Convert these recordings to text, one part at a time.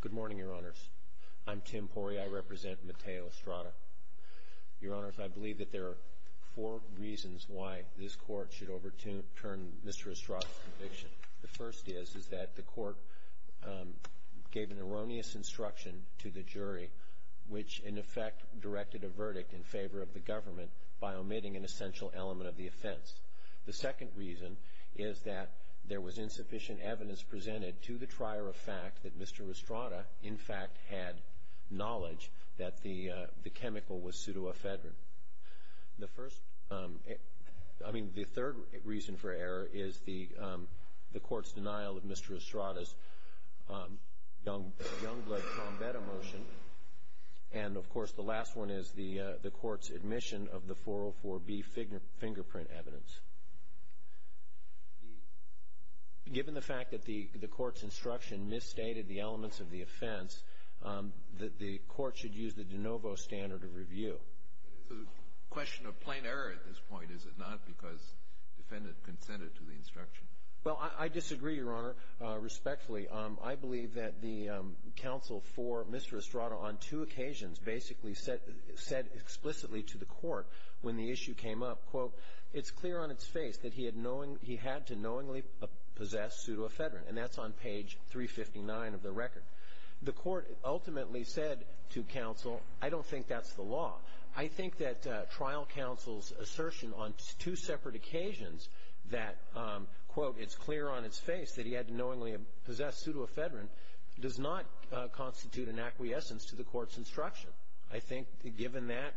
Good morning, Your Honors. I'm Tim Pori. I represent Mateo Estrada. Your Honors, I believe that there are four reasons why this Court should overturn Mr. Estrada's conviction. The first is that the Court gave an erroneous instruction to the jury, which in effect directed a verdict in favor of the government by omitting an essential element of the offense. The second reason is that there was insufficient evidence presented to the trier of fact that Mr. Estrada in fact had knowledge that the chemical was pseudoephedrine. The third reason for error is the Court's denial of Mr. Estrada's Youngblood-Combetta motion. And, of course, the last one is the Court's admission of the 404B fingerprint evidence. Given the fact that the Court's instruction misstated the elements of the offense, the Court should use the de novo standard of review. It's a question of plain error at this point, is it not, because the defendant consented to the instruction? Well, I disagree, Your Honor, respectfully. I believe that the counsel for Mr. Estrada on two occasions basically said explicitly to the Court when the issue came up, quote, it's clear on its face that he had to knowingly possess pseudoephedrine. And that's on page 359 of the record. The Court ultimately said to counsel, I don't think that's the law. I think that trial counsel's assertion on two separate occasions that, quote, it's clear on its face that he had to knowingly possess pseudoephedrine does not constitute an acquiescence to the Court's instruction. I think, given that,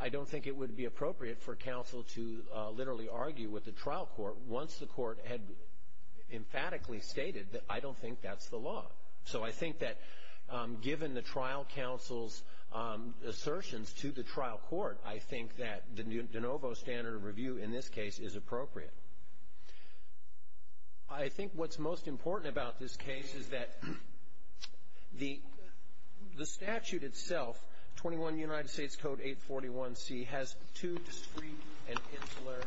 I don't think it would be appropriate for counsel to literally argue with the trial court once the court had emphatically stated that I don't think that's the law. So I think that given the trial counsel's assertions to the trial court, I think that de novo standard of review in this case is appropriate. I think what's most important about this case is that the statute itself, 21 United States Code 841c, has two discrete and insular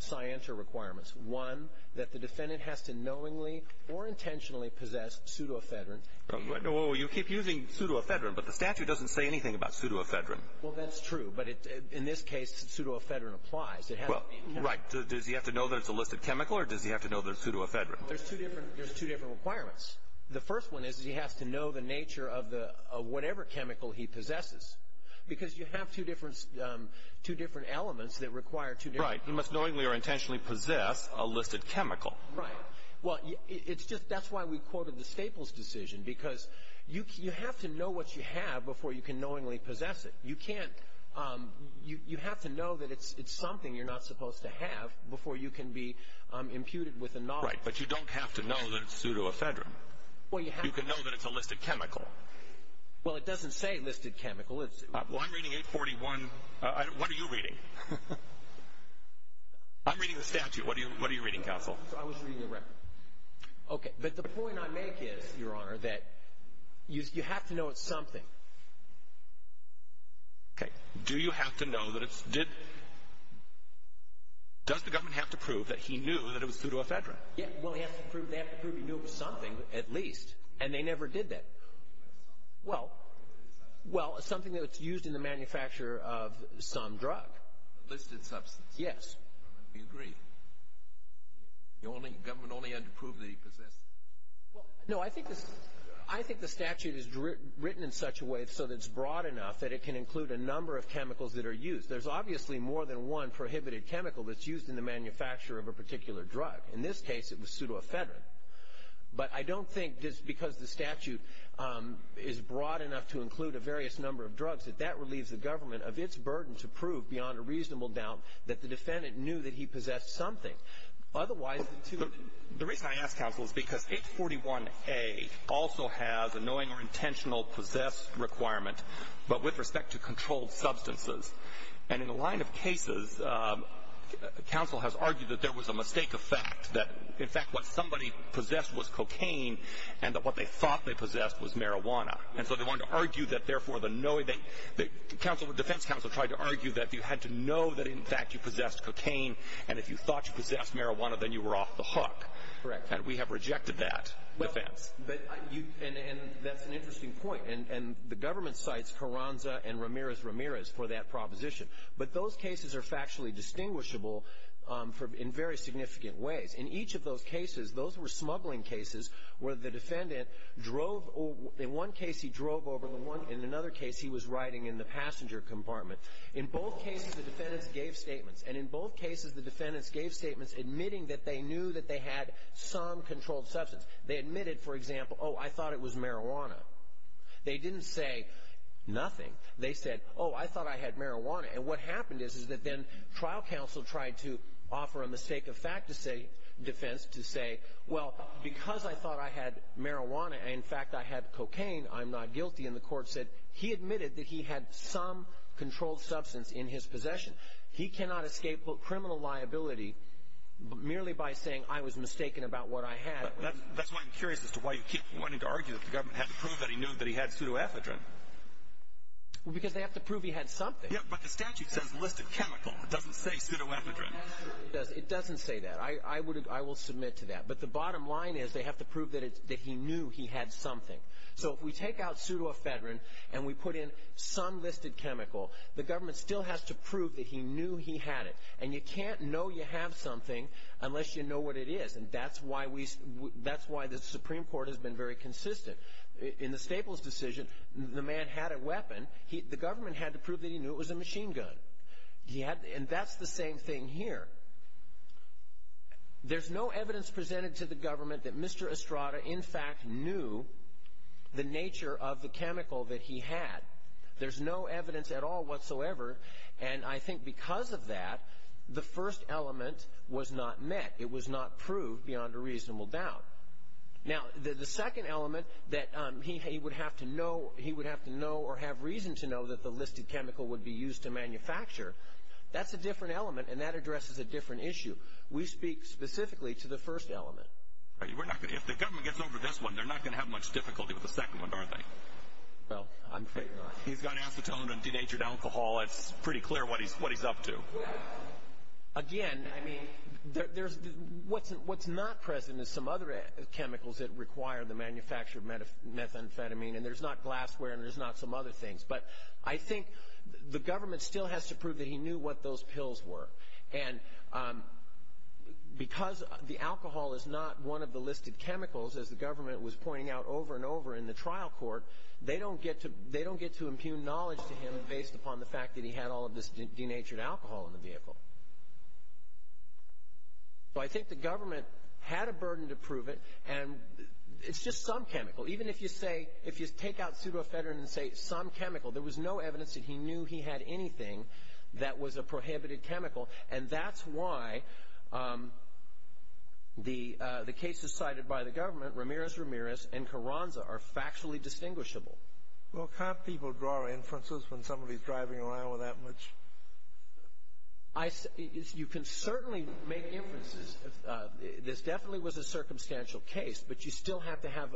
scienter requirements. One, that the defendant has to knowingly or intentionally possess pseudoephedrine. Well, you keep using pseudoephedrine, but the statute doesn't say anything about pseudoephedrine. Well, that's true. But in this case, pseudoephedrine applies. Well, right. Does he have to know that it's a listed chemical, or does he have to know that it's pseudoephedrine? There's two different requirements. The first one is he has to know the nature of whatever chemical he possesses, because you have two different elements that require two different elements. Right. He must knowingly or intentionally possess a listed chemical. Right. Well, it's just that's why we quoted the Staples decision, because you have to know what you have before you can knowingly possess it. You can't. You have to know that it's something you're not supposed to have before you can be imputed with a knowledge. Right. But you don't have to know that it's pseudoephedrine. You can know that it's a listed chemical. Well, it doesn't say listed chemical. Well, I'm reading 841. What are you reading? I'm reading the statute. What are you reading, counsel? I was reading the record. Okay. But the point I make is, Your Honor, that you have to know it's something. Okay. Do you have to know that it's – does the government have to prove that he knew that it was pseudoephedrine? Yeah. Well, they have to prove he knew it was something at least, and they never did that. Well, it's something that's used in the manufacture of some drug. Listed substance. Yes. We agree. The government only had to prove that he possessed it. No, I think the statute is written in such a way so that it's broad enough that it can include a number of chemicals that are used. There's obviously more than one prohibited chemical that's used in the manufacture of a particular drug. In this case, it was pseudoephedrine. But I don't think just because the statute is broad enough to include a various number of drugs that that relieves the government of its burden to prove beyond a reasonable doubt that the defendant knew that he possessed something. Otherwise, the two – The reason I ask, counsel, is because H41A also has a knowing or intentional possessed requirement, but with respect to controlled substances. And in a line of cases, counsel has argued that there was a mistake of fact, that, in fact, what somebody possessed was cocaine and that what they thought they possessed was marijuana. And so they wanted to argue that, therefore, the defense counsel tried to argue that you had to know that, in fact, you possessed cocaine. And if you thought you possessed marijuana, then you were off the hook. Correct. And we have rejected that defense. And that's an interesting point. And the government cites Carranza and Ramirez-Ramirez for that proposition. But those cases are factually distinguishable in very significant ways. In each of those cases, those were smuggling cases where the defendant drove – in one case, he drove over the one – in another case, he was riding in the passenger compartment. In both cases, the defendants gave statements. And in both cases, the defendants gave statements admitting that they knew that they had some controlled substance. They admitted, for example, oh, I thought it was marijuana. They didn't say nothing. They said, oh, I thought I had marijuana. And what happened is, is that then trial counsel tried to offer a mistake of fact defense to say, well, because I thought I had marijuana and, in fact, I had cocaine, I'm not guilty. And the court said he admitted that he had some controlled substance in his possession. He cannot escape criminal liability merely by saying I was mistaken about what I had. That's why I'm curious as to why you keep wanting to argue that the government had to prove that he knew that he had pseudoephedrine. Well, because they have to prove he had something. Yeah, but the statute says list of chemical. It doesn't say pseudoephedrine. It doesn't say that. I will submit to that. But the bottom line is they have to prove that he knew he had something. So if we take out pseudoephedrine and we put in some listed chemical, the government still has to prove that he knew he had it. And you can't know you have something unless you know what it is. And that's why the Supreme Court has been very consistent. In the Staples decision, the man had a weapon. The government had to prove that he knew it was a machine gun. And that's the same thing here. There's no evidence presented to the government that Mr. Estrada, in fact, knew the nature of the chemical that he had. There's no evidence at all whatsoever. And I think because of that, the first element was not met. It was not proved beyond a reasonable doubt. Now, the second element that he would have to know or have reason to know that the listed chemical would be used to manufacture, that's a different element, and that addresses a different issue. We speak specifically to the first element. If the government gets over this one, they're not going to have much difficulty with the second one, are they? Well, I'm afraid not. He's got acetone and denatured alcohol. It's pretty clear what he's up to. Again, I mean, what's not present is some other chemicals that require the manufacture of methamphetamine, and there's not glassware and there's not some other things. But I think the government still has to prove that he knew what those pills were. And because the alcohol is not one of the listed chemicals, as the government was pointing out over and over in the trial court, they don't get to impugn knowledge to him based upon the fact that he had all of this denatured alcohol in the vehicle. So I think the government had a burden to prove it, and it's just some chemical. Even if you say, if you take out pseudoephedrine and say some chemical, there was no evidence that he knew he had anything that was a prohibited chemical, and that's why the cases cited by the government, Ramirez-Ramirez and Carranza, are factually distinguishable. Well, can't people draw inferences when somebody's driving around with that much? You can certainly make inferences. This definitely was a circumstantial case, but you still have to have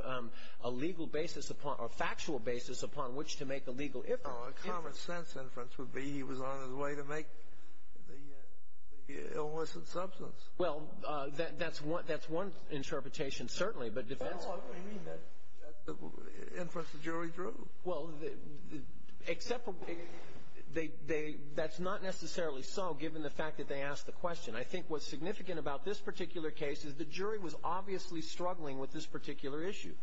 a legal basis or factual basis upon which to make a legal inference. Well, a common-sense inference would be he was on his way to make the illicit substance. Well, that's one interpretation, certainly. Well, I mean, that's the inference the jury drew. Well, that's not necessarily so, given the fact that they asked the question. I think what's significant about this particular case is the jury was obviously struggling with this particular issue.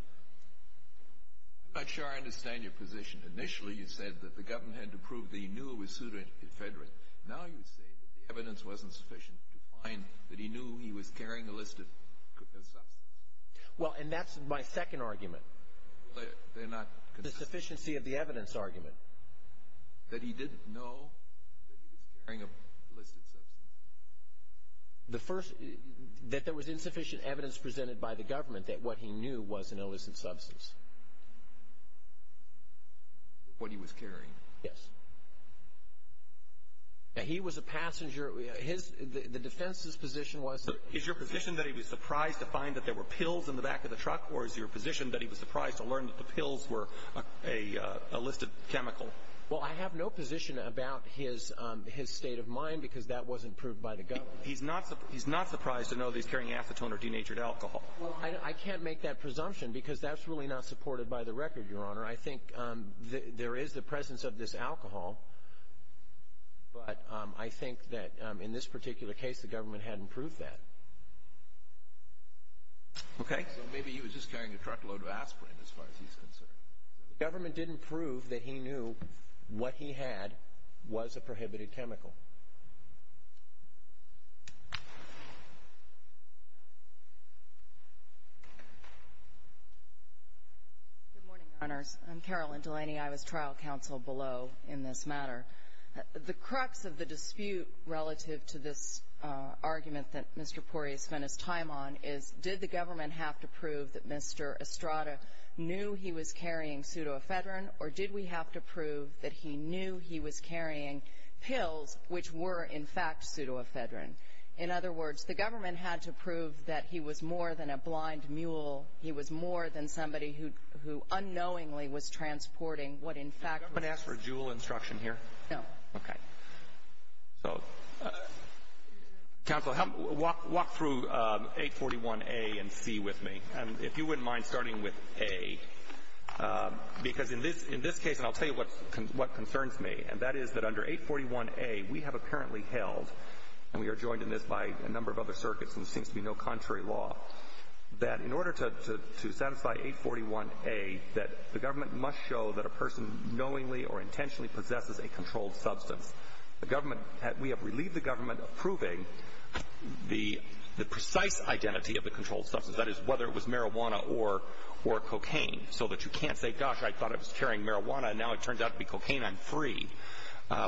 I'm not sure I understand your position. Initially, you said that the government had to prove that he knew it was pseudoephedrine. Now you say that the evidence wasn't sufficient to find that he knew he was carrying illicit substances. Well, and that's my second argument. They're not consistent. The sufficiency of the evidence argument. That he didn't know that he was carrying an illicit substance. The first, that there was insufficient evidence presented by the government that what he knew was an illicit substance. What he was carrying. Yes. Now, he was a passenger. His, the defense's position was. Is your position that he was surprised to find that there were pills in the back of the truck, or is your position that he was surprised to learn that the pills were a listed chemical? Well, I have no position about his state of mind because that wasn't proved by the government. He's not surprised to know that he's carrying acetone or denatured alcohol. Well, I can't make that presumption because that's really not supported by the record, Your Honor. I think there is the presence of this alcohol, but I think that in this particular case the government hadn't proved that. Okay. So maybe he was just carrying a truckload of aspirin as far as he's concerned. The government didn't prove that he knew what he had was a prohibited chemical. Good morning, Your Honors. I'm Carolyn Delaney. I was trial counsel below in this matter. The crux of the dispute relative to this argument that Mr. Pori has spent his time on is, did the government have to prove that Mr. Estrada knew he was carrying pseudoephedrine, or did we have to prove that he knew he was carrying pills which were, in fact, pseudoephedrine? In other words, the government had to prove that he was more than a blind mule. He was more than somebody who unknowingly was transporting what, in fact, was a drug. Did the government ask for a JUUL instruction here? No. Okay. So, counsel, walk through 841A and C with me. And if you wouldn't mind starting with A, because in this case, and I'll tell you what concerns me, and that is that under 841A we have apparently held, and we are joined in this by a number of other circuits and there seems to be no contrary law, that in order to satisfy 841A, that the government must show that a person knowingly or intentionally possesses a controlled substance. We have relieved the government of proving the precise identity of the controlled substance, that is, whether it was marijuana or cocaine, so that you can't say, gosh, I thought I was carrying marijuana and now it turns out to be cocaine, I'm free.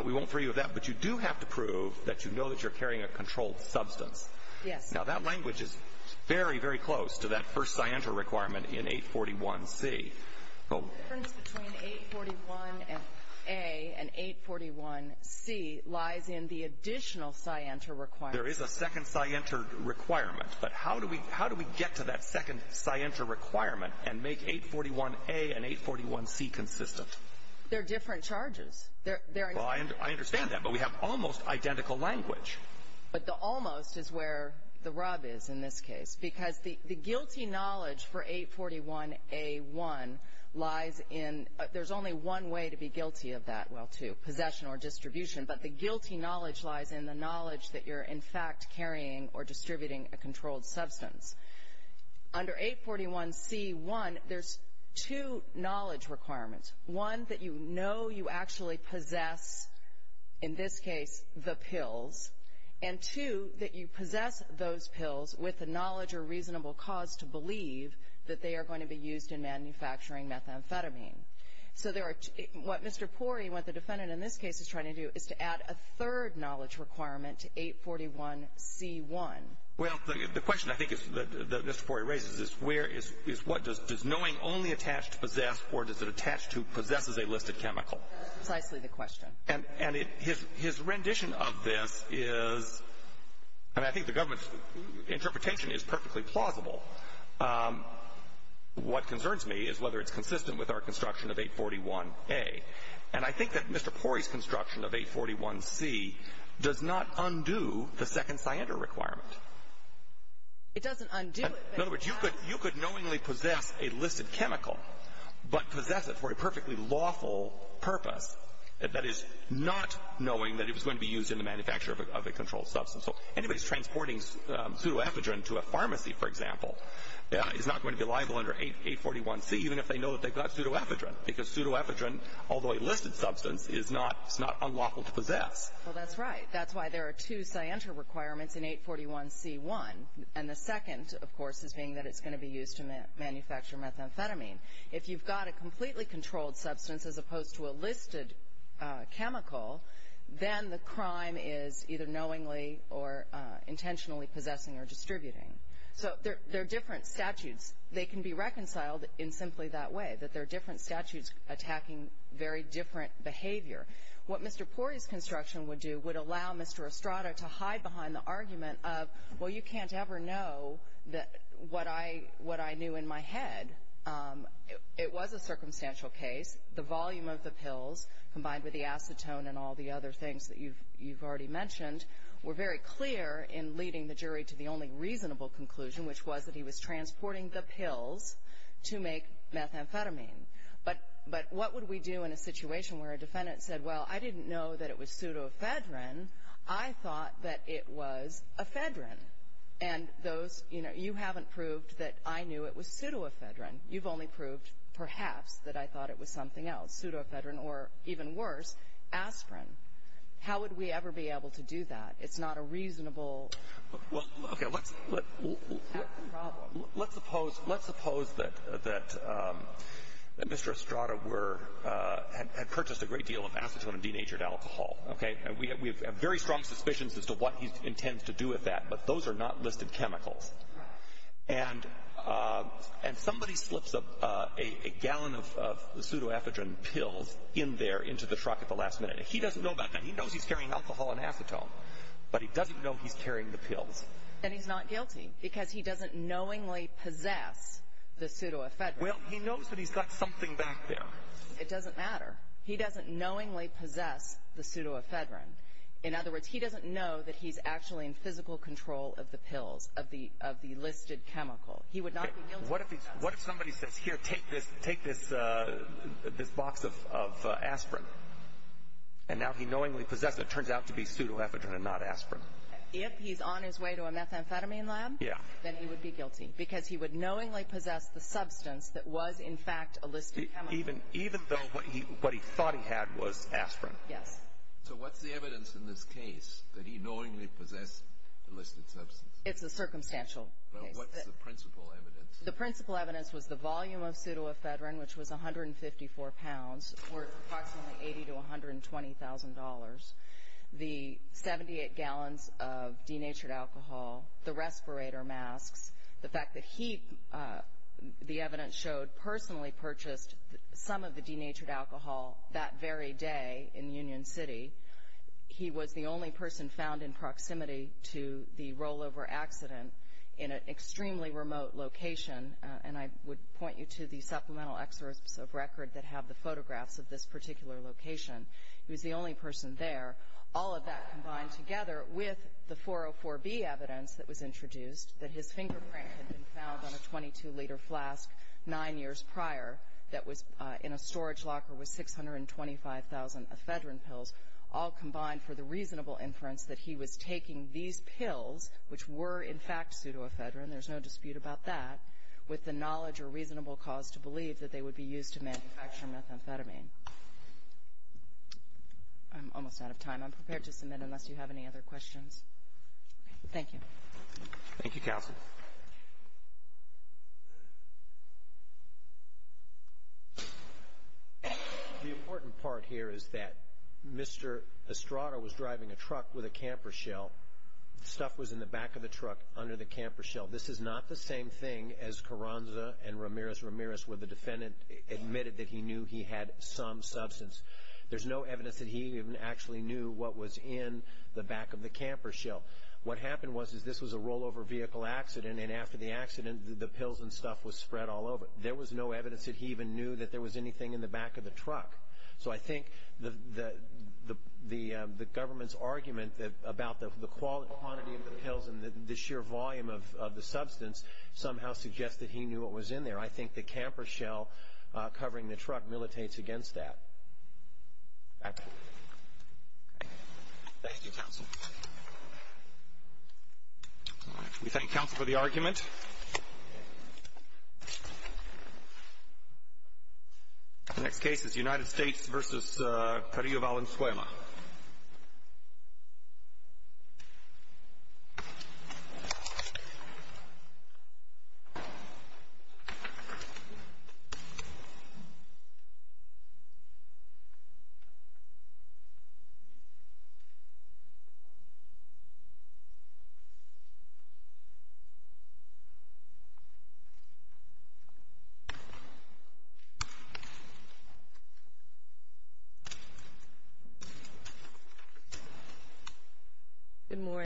We won't free you of that. But you do have to prove that you know that you're carrying a controlled substance. Yes. Now, that language is very, very close to that first scienter requirement in 841C. The difference between 841A and 841C lies in the additional scienter requirement. There is a second scienter requirement. But how do we get to that second scienter requirement and make 841A and 841C consistent? They're different charges. Well, I understand that, but we have almost identical language. But the almost is where the rub is in this case. Because the guilty knowledge for 841A1 lies in, there's only one way to be guilty of that. Well, two, possession or distribution. But the guilty knowledge lies in the knowledge that you're, in fact, carrying or distributing a controlled substance. Under 841C1, there's two knowledge requirements. One, that you know you actually possess, in this case, the pills. And two, that you possess those pills with the knowledge or reasonable cause to believe that they are going to be used in manufacturing methamphetamine. So what Mr. Pori, what the defendant in this case is trying to do is to add a third knowledge requirement to 841C1. Well, the question, I think, that Mr. Pori raises is where, is what, does knowing only attach to possess or does it attach to possesses a listed chemical? That's precisely the question. And his rendition of this is, and I think the government's interpretation is perfectly plausible. What concerns me is whether it's consistent with our construction of 841A. And I think that Mr. Pori's construction of 841C does not undo the second cyander requirement. It doesn't undo it. In other words, you could knowingly possess a listed chemical, but possess it for a perfectly lawful purpose. That is, not knowing that it was going to be used in the manufacture of a controlled substance. So anybody who's transporting pseudoephedrine to a pharmacy, for example, is not going to be liable under 841C even if they know that they've got pseudoephedrine because pseudoephedrine, although a listed substance, is not unlawful to possess. Well, that's right. That's why there are two cyander requirements in 841C1. And the second, of course, is being that it's going to be used to manufacture methamphetamine. If you've got a completely controlled substance as opposed to a listed chemical, then the crime is either knowingly or intentionally possessing or distributing. So there are different statutes. They can be reconciled in simply that way, that there are different statutes attacking very different behavior. What Mr. Pori's construction would do would allow Mr. Estrada to hide behind the argument of, well, you can't ever know what I knew in my head. It was a circumstantial case. The volume of the pills combined with the acetone and all the other things that you've already mentioned were very clear in leading the jury to the only reasonable conclusion, which was that he was transporting the pills to make methamphetamine. But what would we do in a situation where a defendant said, well, I didn't know that it was pseudoephedrine. I thought that it was ephedrine. And those, you know, you haven't proved that I knew it was pseudoephedrine. You've only proved, perhaps, that I thought it was something else, pseudoephedrine, or, even worse, aspirin. How would we ever be able to do that? It's not a reasonable. Well, okay, let's suppose that Mr. Estrada had purchased a great deal of acetone and denatured alcohol. We have very strong suspicions as to what he intends to do with that, but those are not listed chemicals. And somebody slips a gallon of pseudoephedrine pills in there into the truck at the last minute. He doesn't know about that. But he doesn't know he's carrying the pills. And he's not guilty because he doesn't knowingly possess the pseudoephedrine. Well, he knows that he's got something back there. It doesn't matter. He doesn't knowingly possess the pseudoephedrine. In other words, he doesn't know that he's actually in physical control of the pills, of the listed chemical. He would not be guilty of that. What if somebody says, here, take this box of aspirin, and now he knowingly possesses it. It turns out to be pseudoephedrine and not aspirin. If he's on his way to a methamphetamine lab, then he would be guilty because he would knowingly possess the substance that was in fact a listed chemical. Even though what he thought he had was aspirin. Yes. So what's the evidence in this case that he knowingly possessed the listed substance? It's a circumstantial case. What's the principal evidence? The principal evidence was the volume of pseudoephedrine, which was 154 pounds, worth approximately $80,000 to $120,000. The 78 gallons of denatured alcohol, the respirator masks, the fact that he, the evidence showed, personally purchased some of the denatured alcohol that very day in Union City. He was the only person found in proximity to the rollover accident in an extremely remote location. And I would point you to the supplemental excerpts of record that have the photographs of this particular location. He was the only person there. All of that combined together with the 404B evidence that was introduced, that his fingerprint had been found on a 22-liter flask nine years prior, that was in a storage locker with 625,000 ephedrine pills, all combined for the reasonable inference that he was taking these pills, which were, in fact, pseudoephedrine, there's no dispute about that, with the knowledge or reasonable cause to believe that they would be used to manufacture methamphetamine. I'm almost out of time. I'm prepared to submit unless you have any other questions. Thank you. Thank you, Counsel. The important part here is that Mr. Estrada was driving a truck with a camper shell. Stuff was in the back of the truck under the camper shell. This is not the same thing as Carranza and Ramirez-Ramirez, where the defendant admitted that he knew he had some substance. There's no evidence that he even actually knew what was in the back of the camper shell. What happened was this was a rollover vehicle accident, and after the accident the pills and stuff was spread all over it. There was no evidence that he even knew that there was anything in the back of the truck. So I think the government's argument about the quantity of the pills and the sheer volume of the substance somehow suggests that he knew what was in there. I think the camper shell covering the truck militates against that. Thank you, Counsel. We thank Counsel for the argument. The next case is United States v. Carrillo Valenzuela. Good morning.